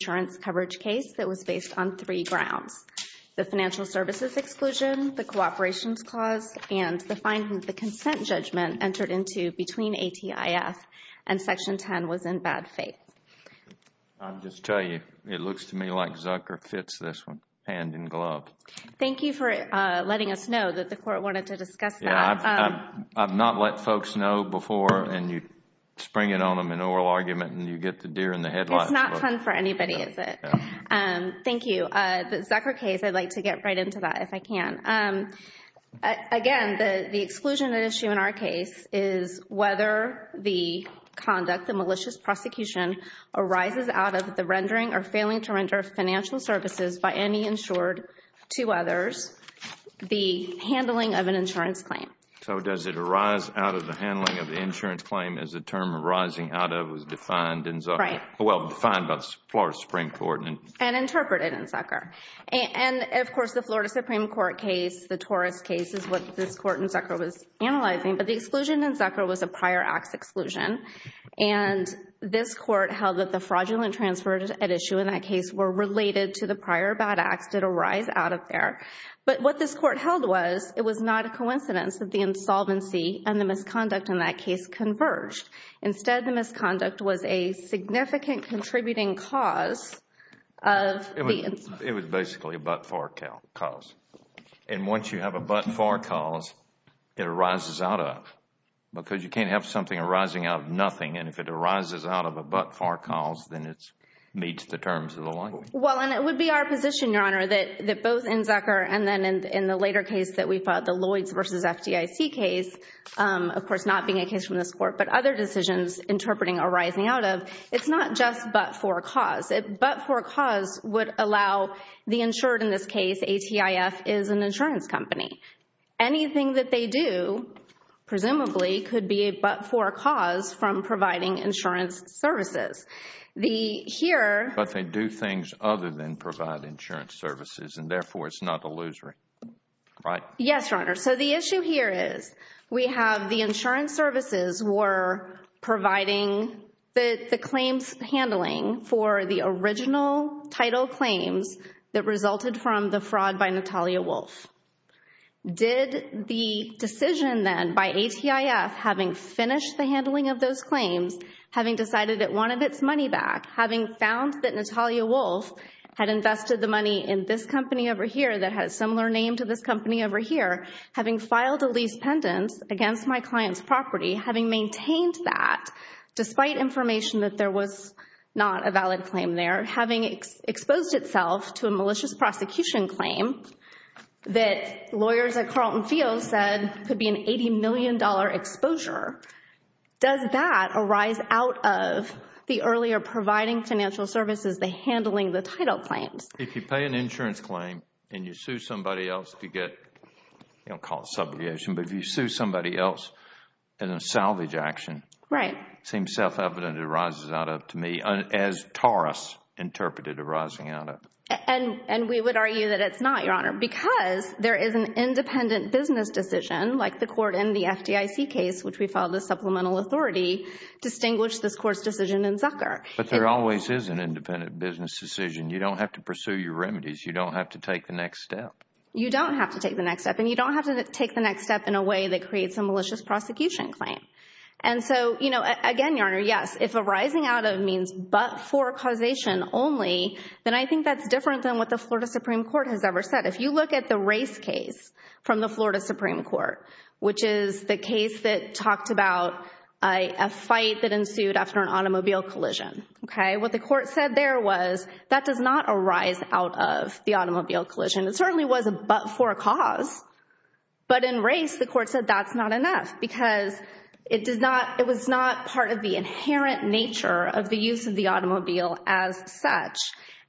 case that was based on three grounds, the financial services exclusion, the cooperations clause and the consent judgment entered into between ATIF and Section 10 was in bad faith. I'll just tell you, it looks to me like Zucker fits this one, hand in glove. Thank you for letting us know that the court wanted to discuss that. I've not let folks know before and you spring it on them in oral argument and you get the deer in the headlights. It's not fun for anybody, is it? No. Thank you. The Zucker case, I'd like to get right into that if I can. Again, the exclusion issue in our case is whether the conduct, the malicious prosecution arises out of the rendering or failing to render financial services by any insured to others, the handling of an insurance claim. So does it arise out of the handling of the insurance claim as the term arising out of Well, defined by the Florida Supreme Court. And interpreted in Zucker. And of course, the Florida Supreme Court case, the Torres case is what this court in Zucker was analyzing. But the exclusion in Zucker was a prior acts exclusion. And this court held that the fraudulent transfers at issue in that case were related to the prior bad acts that arise out of there. But what this court held was it was not a coincidence that the insolvency and the misconduct in that case converged. Instead, the misconduct was a significant contributing cause of It was basically a but-for cause. And once you have a but-for cause, it arises out of. Because you can't have something arising out of nothing. And if it arises out of a but-for cause, then it meets the terms of the law. Well, and it would be our position, Your Honor, that both in Zucker and then in the later case that we fought, the Lloyds versus FDIC case, of course, not being a case from this decision's interpreting arising out of, it's not just but-for cause. A but-for cause would allow the insured, in this case, ATIF, is an insurance company. Anything that they do, presumably, could be a but-for cause from providing insurance services. The here But they do things other than provide insurance services. And therefore, it's not illusory. Right? Yes, Your Honor. So the issue here is we have the insurance services were providing the claims handling for the original title claims that resulted from the fraud by Natalia Wolf. Did the decision then by ATIF, having finished the handling of those claims, having decided it wanted its money back, having found that Natalia Wolf had invested the money in this company over here, having filed a lease pendant against my client's property, having maintained that, despite information that there was not a valid claim there, having exposed itself to a malicious prosecution claim that lawyers at Carlton Field said could be an $80 million exposure, does that arise out of the earlier providing financial services, the handling the title claims? If you pay an insurance claim and you sue somebody else to get, you know, call it subjugation, but if you sue somebody else in a salvage action, it seems self-evident it arises out of, to me, as Taurus interpreted arising out of. And we would argue that it's not, Your Honor, because there is an independent business decision like the court in the FDIC case, which we filed the supplemental authority, distinguished this court's decision in Zucker. But there always is an independent business decision. You don't have to pursue your remedies. You don't have to take the next step. You don't have to take the next step. And you don't have to take the next step in a way that creates a malicious prosecution claim. And so, you know, again, Your Honor, yes, if arising out of means but for causation only, then I think that's different than what the Florida Supreme Court has ever said. If you look at the race case from the Florida Supreme Court, which is the case that talked about a fight that ensued after an automobile collision, OK, what the court said there was that does not arise out of the automobile collision. It certainly was but for a cause. But in race, the court said that's not enough because it was not part of the inherent nature of the use of the automobile as such.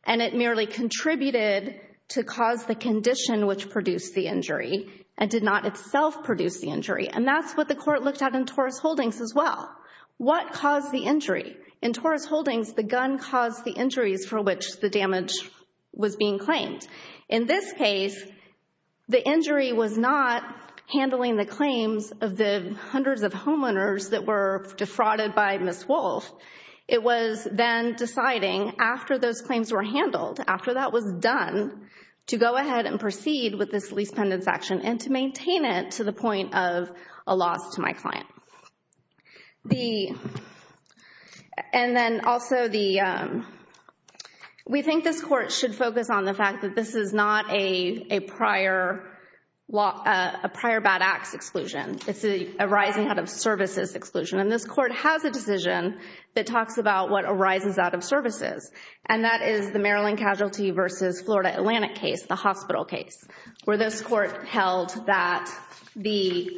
And it merely contributed to cause the condition which produced the injury and did not itself produce the injury. And that's what the court looked at in Torres Holdings as well. What caused the injury? In Torres Holdings, the gun caused the injuries for which the damage was being claimed. In this case, the injury was not handling the claims of the hundreds of homeowners that were defrauded by Ms. Wolfe. It was then deciding after those claims were handled, after that was done, to go ahead and proceed with this lease pendants action and to maintain it to the point of a loss to my client. And then also, we think this court should focus on the fact that this is not a prior bad acts exclusion. It's an arising out of services exclusion. And this court has a decision that talks about what arises out of services. And that is the Maryland casualty versus Florida Atlantic case, the hospital case, where this court held that the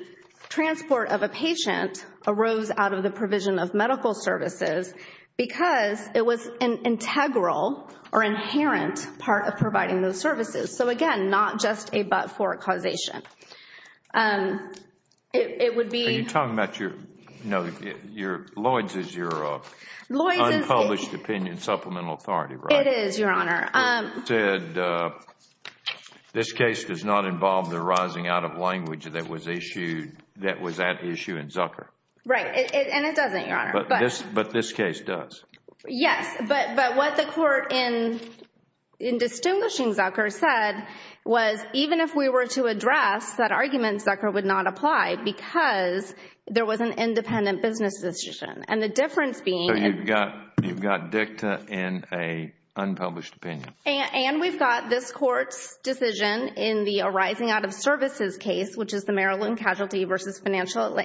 transport of a patient arose out of the provision of medical services because it was an integral or inherent part of providing those services. So again, not just a but-for causation. It would be... It is, Your Honor. This case does not involve the arising out of language that was issued, that was at issue in Zucker. And it doesn't, Your Honor. But this case does. Yes. But what the court in distinguishing Zucker said was even if we were to address that argument, Zucker would not apply because there was an independent business decision. And the difference being... You've got dicta in an unpublished opinion. And we've got this court's decision in the arising out of services case, which is the Maryland casualty versus Florida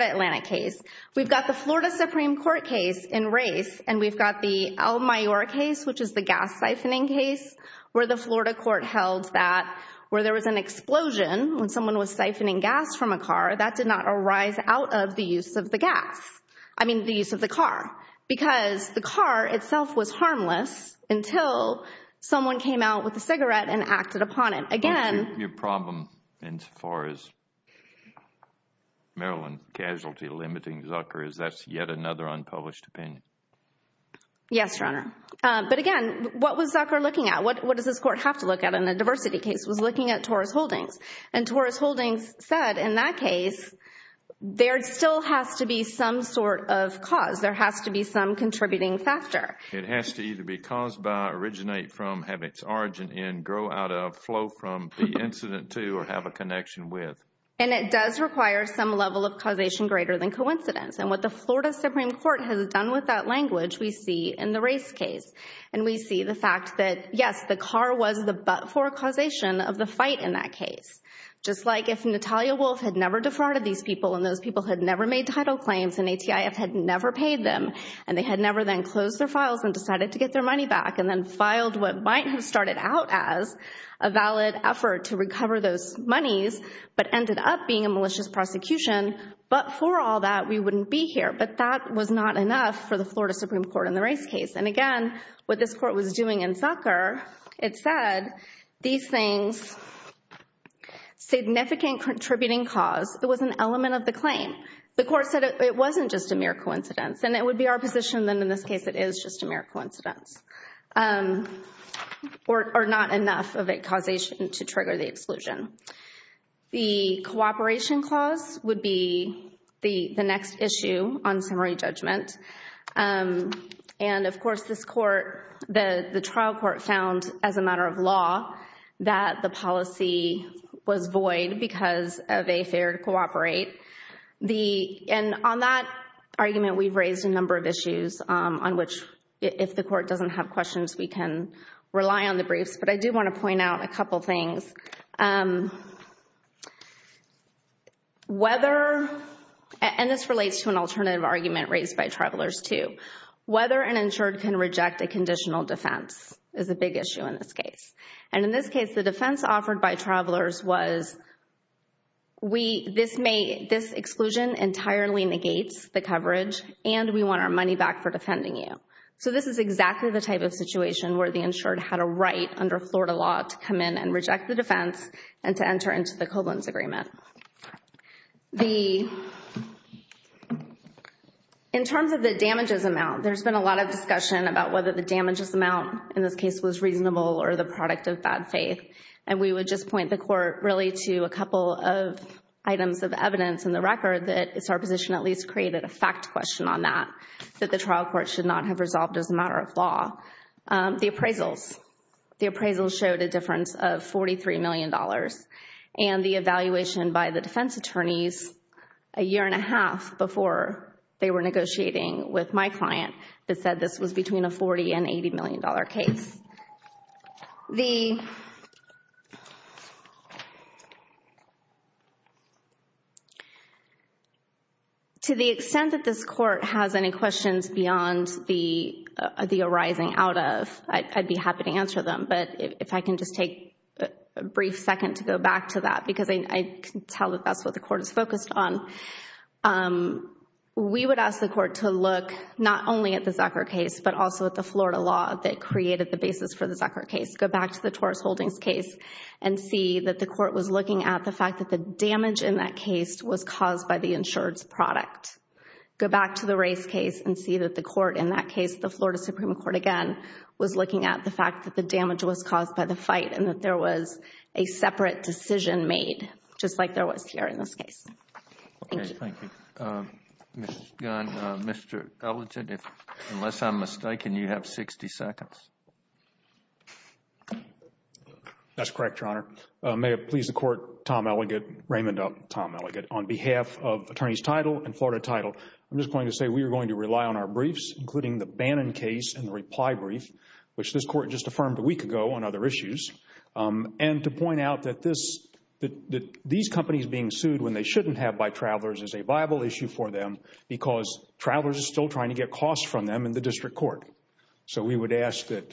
Atlantic case. We've got the Florida Supreme Court case in race. And we've got the El Mayor case, which is the gas siphoning case, where the Florida court held that where there was an explosion when someone was siphoning gas from a car, that did not arise out of the use of the gas. I mean, the use of the car. Because the car itself was harmless until someone came out with a cigarette and acted upon it. Again... Your problem in so far as Maryland casualty limiting Zucker is that's yet another unpublished opinion. Yes, Your Honor. But again, what was Zucker looking at? What does this court have to look at in a diversity case? It was looking at Torres Holdings. And Torres Holdings said in that case, there still has to be some sort of cause. There has to be some contributing factor. It has to either be caused by, originate from, have its origin in, grow out of, flow from the incident to, or have a connection with. And it does require some level of causation greater than coincidence. And what the Florida Supreme Court has done with that language, we see in the race case. And we see the fact that, yes, the car was the but-for causation of the fight in that case. Just like if Natalia Wolf had never defrauded these people, and those people had never made title claims, and ATIF had never paid them, and they had never then closed their files and decided to get their money back, and then filed what might have started out as a valid effort to recover those monies, but ended up being a malicious prosecution. But for all that, we wouldn't be here. But that was not enough for the Florida Supreme Court in the race case. And again, what this court was doing in Zucker, it said, these things, significant contributing cause, it was an element of the claim. The court said it wasn't just a mere coincidence. And it would be our position, then, in this case, it is just a mere coincidence, or not enough of a causation to trigger the exclusion. The cooperation clause would be the next issue on summary judgment. And, of course, this court, the trial court found, as a matter of law, that the policy was void because of a failure to cooperate. And on that argument, we've raised a number of issues on which, if the court doesn't have questions, we can rely on the briefs. But I do want to point out a couple things. Whether, and this relates to an alternative argument raised by travelers, too, whether an insured can reject a conditional defense is a big issue in this case. And in this case, the defense offered by travelers was, this exclusion entirely negates the coverage, and we want our money back for defending you. So this is exactly the type of situation where the insured had a right, under Florida law, to come in and reject the defense and to enter into the Koblenz Agreement. In terms of the damages amount, there's been a lot of discussion about whether the damages amount in this case was reasonable or the product of bad faith. And we would just point the court, really, to a couple of items of evidence in the record that it's our position at least created a fact question on that, that the trial court should not have resolved as a matter of law. The appraisals. The appraisals showed a difference of $43 million. And the evaluation by the defense attorneys a year and a half before they were negotiating with my client that said this was between a $40 and $80 million case. The... To the extent that this court has any questions beyond the arising out of, I'd be happy to answer them. But if I can just take a brief second to go back to that, because I can tell that that's what the court is focused on. We would ask the court to look not only at the Zucker case, but also at the Florida law that created the basis for the Zucker case. Go back to the Torres Holdings case and see that the court was looking at the fact that the damage in that case was caused by the insured's product. Go back to the race case and see that the court in that case, the Florida Supreme Court again, was looking at the fact that the damage was caused by the fight and that there was a separate decision made, just like there was here in this case. Thank you. Thank you. Mr. Gunn, Mr. Ellington, unless I'm mistaken, you have 60 seconds. That's correct, Your Honor. May it please the court, Tom Ellington, Raymond, Tom Ellington, on behalf of Attorneys Title and Florida Title, I'm just going to say we are going to rely on our briefs, including the Bannon case and the reply brief, which this court just affirmed a week ago on other issues, and to point out that these companies being sued when they shouldn't have by travelers is a viable issue for them because travelers are still trying to get costs from them in the district court. So, we would ask that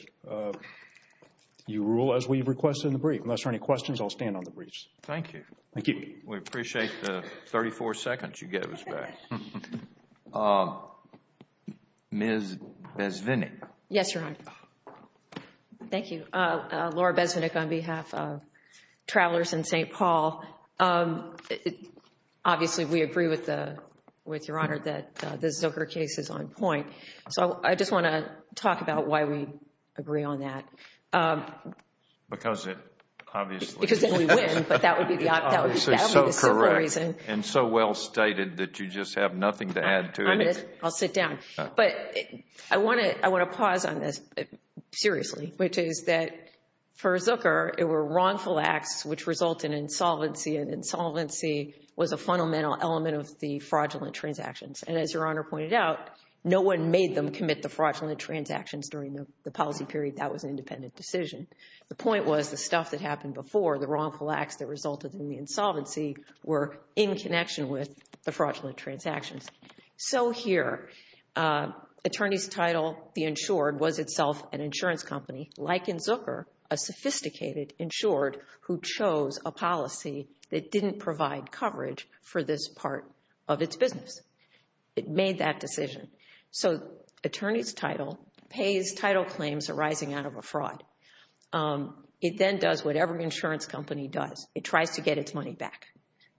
you rule as we've requested in the brief. Unless there are any questions, I'll stand on the briefs. Thank you. Thank you. We appreciate the 34 seconds you gave us back. Ms. Besvinick. Yes, Your Honor. Thank you. Laura Besvinick on behalf of Travelers in St. Paul. Obviously, we agree with Your Honor that the Zucker case is on point. So, I just want to talk about why we agree on that. Because it obviously... Because then we win, but that would be the simple reason. And so well stated that you just have nothing to add to it. I'll sit down. But I want to pause on this seriously, which is that for Zucker, it were wrongful acts which result in insolvency, and insolvency was a fundamental element of the fraudulent transactions. And as Your Honor pointed out, no one made them commit the fraudulent transactions during the policy period. That was an independent decision. The point was the stuff that happened before, the wrongful acts that resulted in the insolvency, were in connection with the fraudulent transactions. So here, attorney's title, the insured, was itself an insurance company. Like in Zucker, a sophisticated insured who chose a policy that didn't provide coverage for this part of its business. It made that decision. So, attorney's title pays title claims arising out of a fraud. It then does whatever an insurance company does. It tries to get its money back.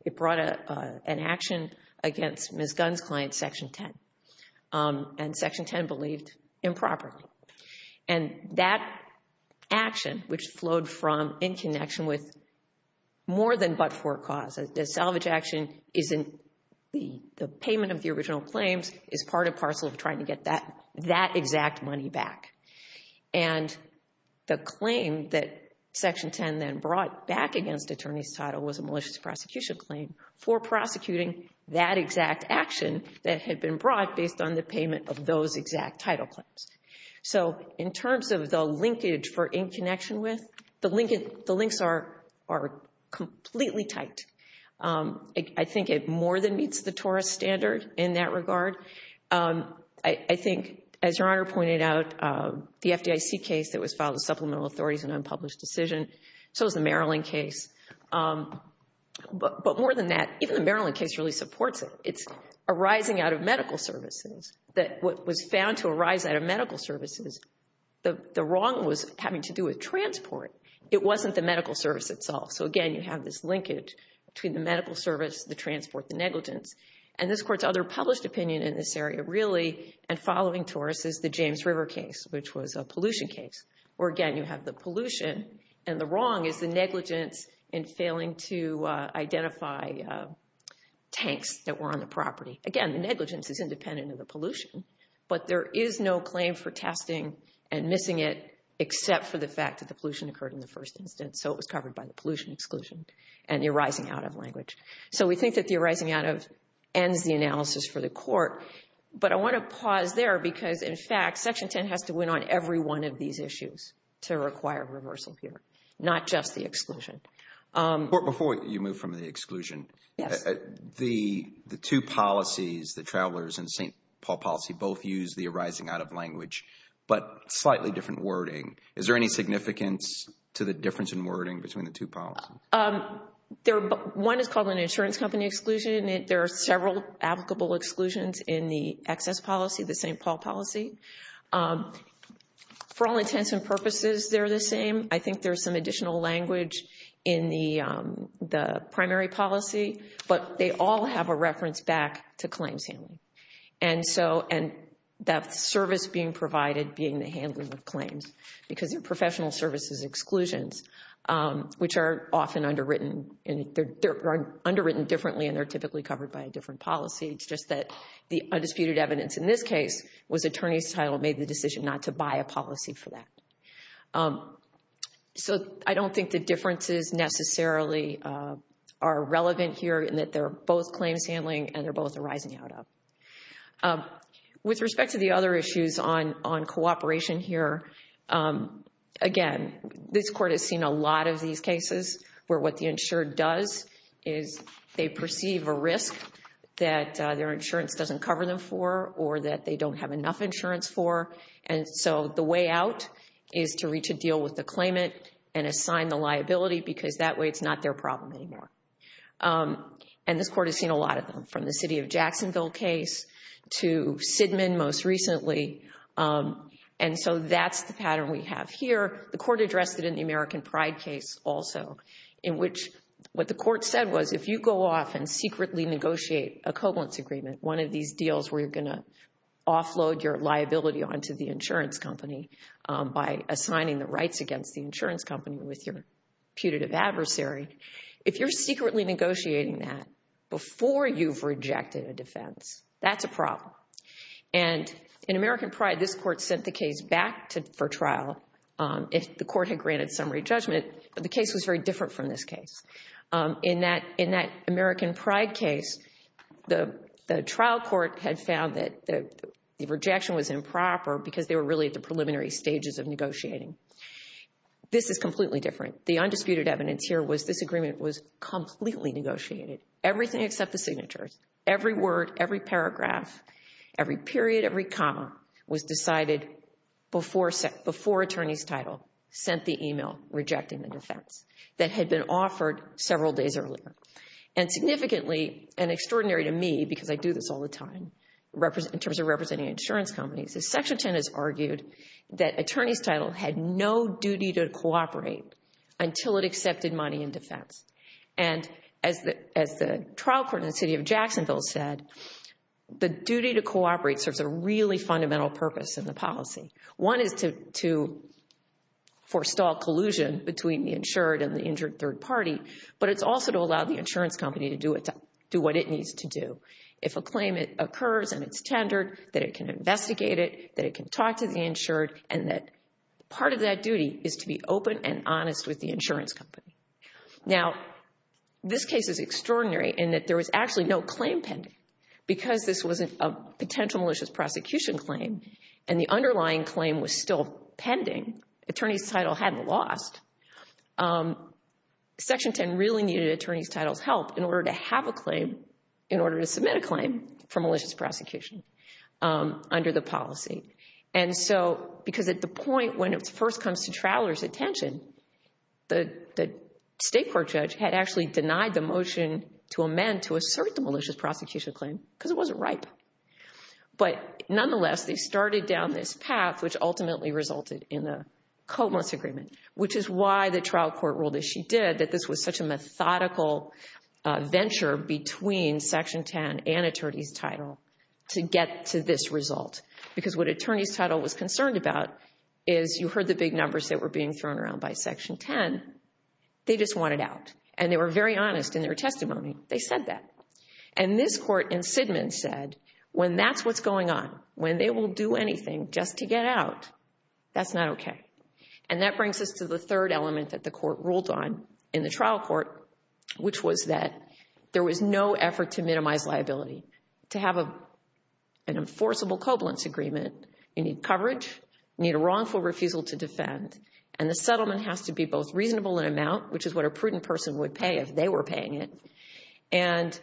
It brought an action against Ms. Gunn's client, Section 10. And Section 10 believed improperly. And that action, which flowed from in connection with more than but-for cause, the salvage action isn't the payment of the original claims, is part and parcel of trying to get that exact money back. And the claim that Section 10 then brought back against attorney's title was a malicious prosecution claim for prosecuting that exact action that had been brought based on the payment of those exact title claims. So, in terms of the linkage for in connection with, the links are completely tight. I think it more than meets the TORRA standard in that regard. I think, as Your Honor pointed out, the FDIC case that was filed with supplemental authorities and unpublished decision, so is the Maryland case. But more than that, even the Maryland case really supports it. It's arising out of medical services. What was found to arise out of medical services, the wrong was having to do with transport. It wasn't the medical service itself. So, again, you have this linkage between the medical service, the transport, the negligence. And this Court's other published opinion in this area really, and following TORRA's, is the James River case, which was a pollution case, where, again, you have the pollution. And the wrong is the negligence in failing to identify tanks that were on the property. Again, the negligence is independent of the pollution, but there is no claim for testing and missing it except for the fact that the pollution occurred in the first instance. So, it was covered by the pollution exclusion and the arising out of language. So, we think that the arising out of ends the analysis for the Court. But I want to pause there because, in fact, Section 10 has to win on every one of these issues to require reversal here, not just the exclusion. Before you move from the exclusion, the two policies, the travelers and St. Paul policy, both use the arising out of language, but slightly different wording. Is there any significance to the difference in wording between the two policies? One is called an insurance company exclusion. There are several applicable exclusions in the access policy, the St. Paul policy. For all intents and purposes, they're the same. I think there's some additional language in the primary policy, but they all have a reference back to claims handling. And that service being provided being the handling of claims, because they're professional services exclusions, which are often underwritten. They're underwritten differently and they're typically covered by a different policy. It's just that the undisputed evidence in this case was attorney's title made the decision not to buy a policy for that. So, I don't think the differences necessarily are relevant here in that they're both claims handling and they're both arising out of. With respect to the other issues on cooperation here, again, this court has seen a lot of these cases where what the insured does is they perceive a risk that their insurance doesn't cover them for or that they don't have enough insurance for. And so, the way out is to reach a deal with the claimant and assign the liability because that way it's not their problem anymore. And this court has seen a lot of them, from the city of Jacksonville case to Sidman most recently. And so, that's the pattern we have here. The court addressed it in the American Pride case also in which what the court said was if you go off and secretly negotiate a covalence agreement, one of these deals where you're going to offload your liability onto the insurance company by assigning the rights against the insurance company with your putative adversary, if you're secretly negotiating that before you've rejected a defense, that's a problem. And in American Pride, this court sent the case back for trial if the court had granted summary judgment, but the case was very different from this case. In that American Pride case, the trial court had found that the rejection was improper because they were really at the preliminary stages of negotiating. This is completely different. The undisputed evidence here was this agreement was completely negotiated, everything except the signatures, every word, every paragraph, every period, every comma was decided before attorney's title sent the email rejecting the defense that had been offered several days earlier. And significantly, and extraordinary to me because I do this all the time in terms of representing insurance companies, is Section 10 has argued that attorney's title had no duty to cooperate until it accepted money in defense. And as the trial court in the city of Jacksonville said, the duty to cooperate serves a really fundamental purpose in the policy. One is to forestall collusion between the insured and the injured third party, but it's also to allow the insurance company to do what it needs to do. If a claim occurs and it's tendered, that it can investigate it, that it can talk to the insured, and that part of that duty is to be open and honest with the insurance company. Now, this case is extraordinary in that there was actually no claim pending. Because this was a potential malicious prosecution claim and the underlying claim was still pending, attorney's title hadn't lost, Section 10 really needed attorney's title's help in order to have a claim, in order to submit a claim for malicious prosecution under the policy. And so, because at the point when it first comes to traveler's attention, the state court judge had actually denied the motion to amend to assert the malicious prosecution claim because it wasn't ripe. But nonetheless, they started down this path, which ultimately resulted in the Comos Agreement, which is why the trial court ruled, as she did, that this was such a methodical venture between Section 10 and attorney's title to get to this result. Because what attorney's title was concerned about is you heard the big numbers that were being thrown around by Section 10, they just wanted out. And they were very honest in their testimony. They said that. And this court in Sidman said, when that's what's going on, when they will do anything just to get out, that's not okay. And that brings us to the third element that the court ruled on in the trial court, which was that there was no effort to minimize liability. To have an enforceable covalence agreement, you need coverage, you need a wrongful refusal to defend, and the settlement has to be both reasonable in amount, which is what a prudent person would pay if they were paying it, and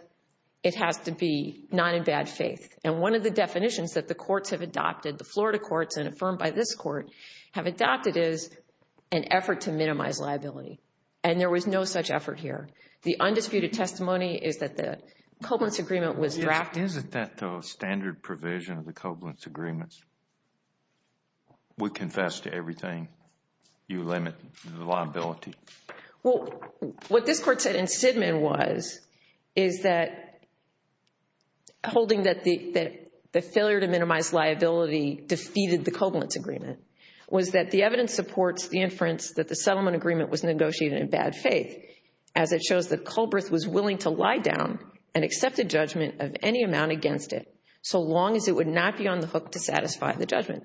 it has to be not in bad faith. And one of the definitions that the courts have adopted, the Florida courts and affirmed by this court, have adopted is an effort to minimize liability. And there was no such effort here. The undisputed testimony is that the covalence agreement was drafted. But isn't that the standard provision of the covalence agreements? We confess to everything. You limit the liability. Well, what this court said in Sidman was, is that holding that the failure to minimize liability defeated the covalence agreement, was that the evidence supports the inference that the settlement agreement was negotiated in bad faith, as it shows that Culberth was willing to lie down and accept the judgment of any amount against it, so long as it would not be on the hook to satisfy the judgment.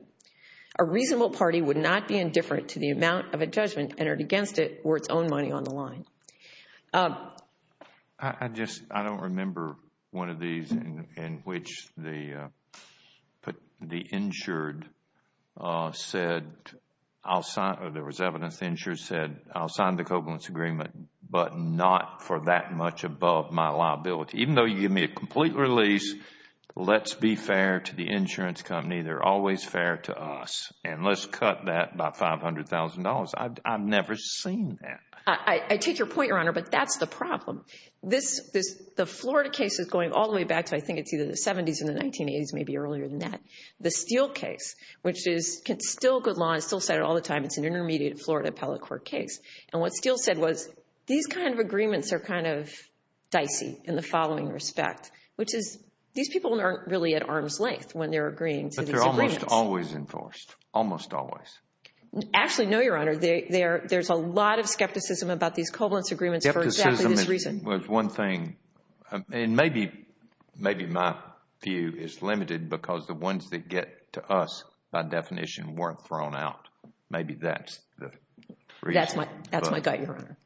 A reasonable party would not be indifferent to the amount of a judgment entered against it or its own money on the line. I just, I don't remember one of these in which the insured said, or there was evidence the insured said, I'll sign the covalence agreement, but not for that much above my liability. Even though you give me a complete release, let's be fair to the insurance company. They're always fair to us. And let's cut that by $500,000. I've never seen that. I take your point, Your Honor, but that's the problem. The Florida case is going all the way back to I think it's either the 70s or the 1980s, maybe earlier than that. The Steele case, which is still good law. I still say it all the time. It's an intermediate Florida appellate court case. And what Steele said was these kind of agreements are kind of dicey in the following respect, which is these people aren't really at arm's length when they're agreeing to these agreements. But they're almost always enforced, almost always. Actually, no, Your Honor. There's a lot of skepticism about these covalence agreements for exactly this reason. I think there's one thing, and maybe my view is limited because the ones that get to us by definition weren't thrown out. Maybe that's the reason. That's my gut, Your Honor.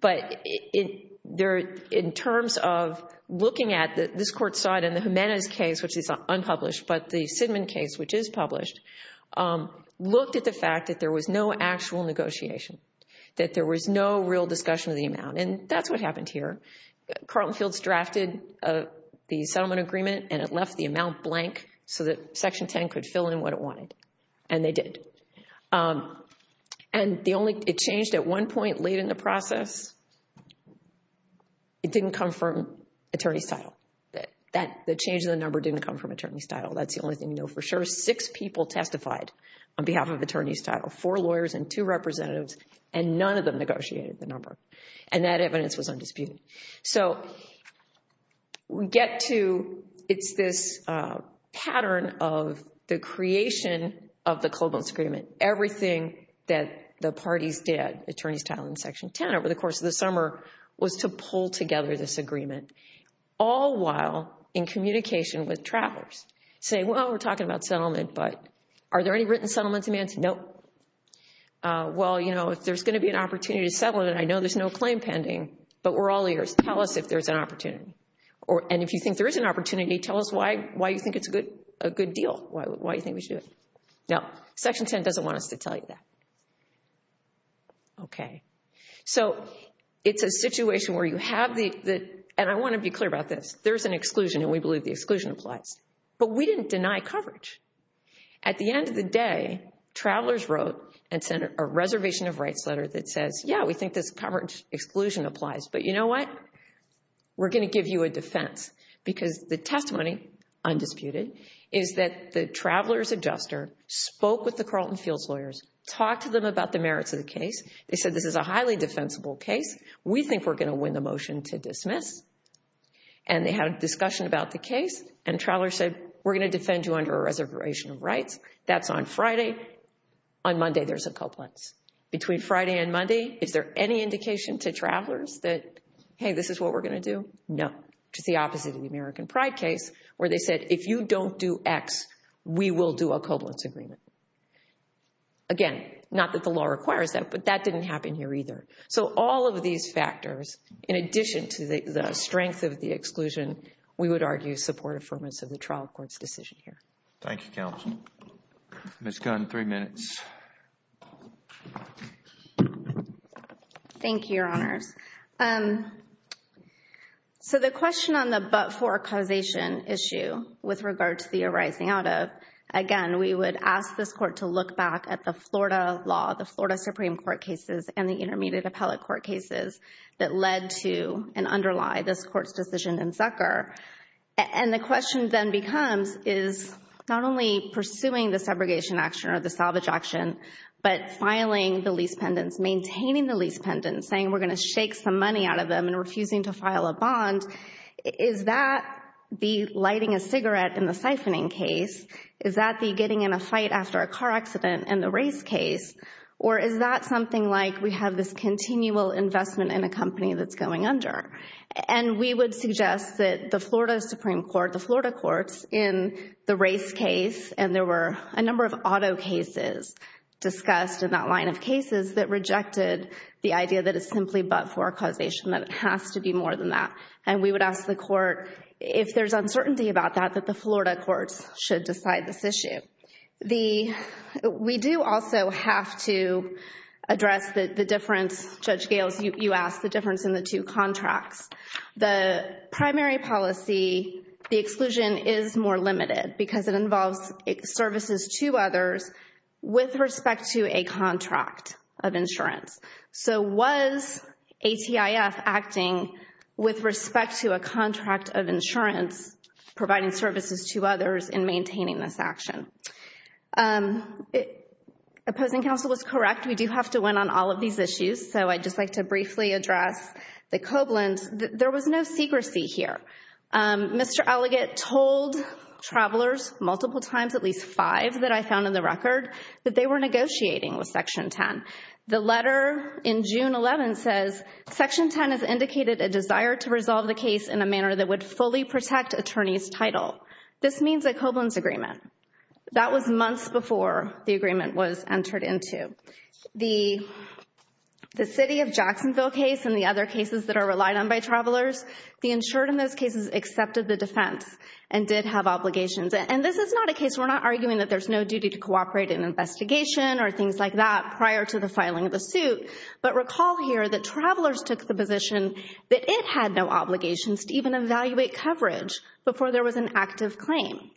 But in terms of looking at this court side and the Jimenez case, which is unpublished, but the Sidman case, which is published, looked at the fact that there was no actual negotiation, that there was no real discussion of the amount. And that's what happened here. Carlton Fields drafted the settlement agreement, and it left the amount blank so that Section 10 could fill in what it wanted, and they did. And it changed at one point late in the process. It didn't come from attorney's title. The change in the number didn't come from attorney's title. That's the only thing you know for sure. Six people testified on behalf of attorney's title, four lawyers and two representatives, and none of them negotiated the number. And that evidence was undisputed. So we get to, it's this pattern of the creation of the co-bonus agreement. Everything that the parties did, attorney's title and Section 10, over the course of the summer, was to pull together this agreement, all while in communication with travelers, saying, well, we're talking about settlement, but are there any written settlement demands? Nope. Well, you know, if there's going to be an opportunity to settle it, and I know there's no claim pending, but we're all ears, tell us if there's an opportunity. And if you think there is an opportunity, tell us why you think it's a good deal, why you think we should do it. No, Section 10 doesn't want us to tell you that. Okay. So it's a situation where you have the, and I want to be clear about this, there's an exclusion, and we believe the exclusion applies. But we didn't deny coverage. At the end of the day, travelers wrote and sent a reservation of rights letter that says, yeah, we think this coverage exclusion applies. But you know what? We're going to give you a defense because the testimony, undisputed, is that the traveler's adjuster spoke with the Carlton Fields lawyers, talked to them about the merits of the case. They said this is a highly defensible case. We think we're going to win the motion to dismiss. And they had a discussion about the case, and travelers said, we're going to defend you under a reservation of rights. That's on Friday. On Monday, there's a cobalt. Between Friday and Monday, is there any indication to travelers that, hey, this is what we're going to do? No. Just the opposite of the American Pride case where they said, if you don't do X, we will do a cobalt agreement. Again, not that the law requires that, but that didn't happen here either. So all of these factors, in addition to the strength of the exclusion, we would argue support affirmance of the trial court's decision here. Thank you, Counsel. Ms. Gunn, three minutes. Thank you, Your Honors. So the question on the but-for causation issue with regard to the arising out of, again, we would ask this Court to look back at the Florida law, the Florida Supreme Court cases and the intermediate appellate court cases that led to and underlie this Court's decision in Zucker. And the question then becomes, is not only pursuing the segregation action or the salvage action, but filing the lease pendants, maintaining the lease pendants, saying we're going to shake some money out of them and refusing to file a bond. Is that the lighting a cigarette in the siphoning case? Is that the getting in a fight after a car accident in the race case? Or is that something like we have this continual investment in a company that's going under? And we would suggest that the Florida Supreme Court, the Florida courts, in the race case, and there were a number of auto cases discussed in that line of cases that rejected the idea that it's simply but-for causation, that it has to be more than that. And we would ask the Court, if there's uncertainty about that, that the Florida courts should decide this issue. We do also have to address the difference, Judge Gales, you asked the difference in the two contracts. The primary policy, the exclusion is more limited because it involves services to others with respect to a contract of insurance. So was ATIF acting with respect to a contract of insurance, providing services to others in maintaining this action? Opposing counsel was correct. We do have to win on all of these issues. So I'd just like to briefly address the Koblins. There was no secrecy here. Mr. Alligat told travelers multiple times, at least five that I found in the record, that they were negotiating with Section 10. The letter in June 11 says, Section 10 has indicated a desire to resolve the case in a manner that would fully protect attorney's title. This means a Koblins agreement. That was months before the agreement was entered into. The City of Jacksonville case and the other cases that are relied on by travelers, the insured in those cases accepted the defense and did have obligations. And this is not a case, we're not arguing that there's no duty to cooperate in an investigation or things like that prior to the filing of the suit. But recall here that travelers took the position that it had no obligations to even evaluate coverage before there was an active claim.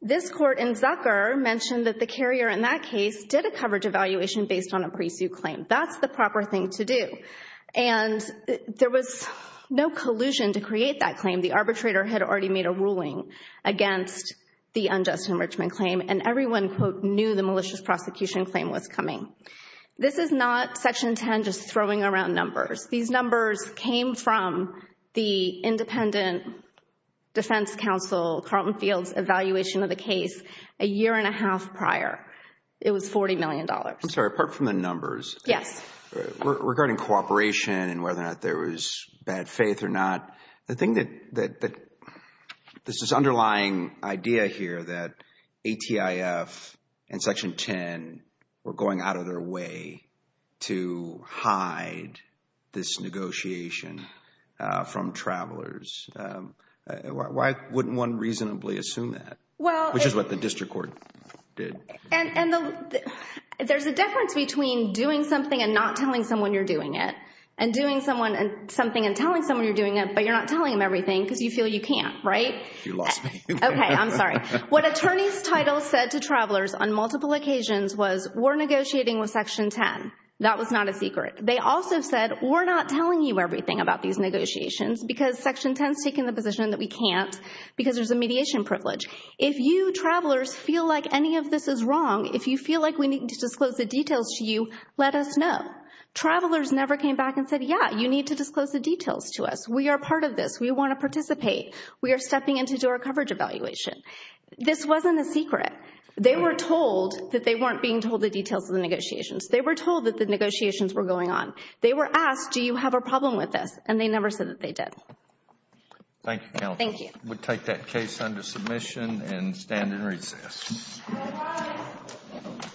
This court in Zucker mentioned that the carrier in that case did a coverage evaluation based on a pre-suit claim. That's the proper thing to do. And there was no collusion to create that claim. The arbitrator had already made a ruling against the unjust enrichment claim, and everyone, quote, knew the malicious prosecution claim was coming. This is not Section 10 just throwing around numbers. These numbers came from the independent defense counsel, Carlton Fields' evaluation of the case a year and a half prior. It was $40 million. I'm sorry, apart from the numbers. Yes. Regarding cooperation and whether or not there was bad faith or not, the thing that this underlying idea here that ATIF and Section 10 were going out of their way to hide this negotiation from travelers, why wouldn't one reasonably assume that, which is what the district court did? And there's a difference between doing something and not telling someone you're doing it and doing something and telling someone you're doing it, but you're not telling them everything because you feel you can't, right? You lost me. Okay, I'm sorry. What attorney's title said to travelers on multiple occasions was, we're negotiating with Section 10. That was not a secret. They also said, we're not telling you everything about these negotiations because Section 10 has taken the position that we can't because there's a mediation privilege. If you travelers feel like any of this is wrong, if you feel like we need to disclose the details to you, let us know. Travelers never came back and said, yeah, you need to disclose the details to us. We are part of this. We want to participate. We are stepping in to do our coverage evaluation. This wasn't a secret. They were told that they weren't being told the details of the negotiations. They were told that the negotiations were going on. They were asked, do you have a problem with this? And they never said that they did. Thank you, counsel. Thank you. We'll take that case under submission and stand in recess. Bye-bye. Thank you.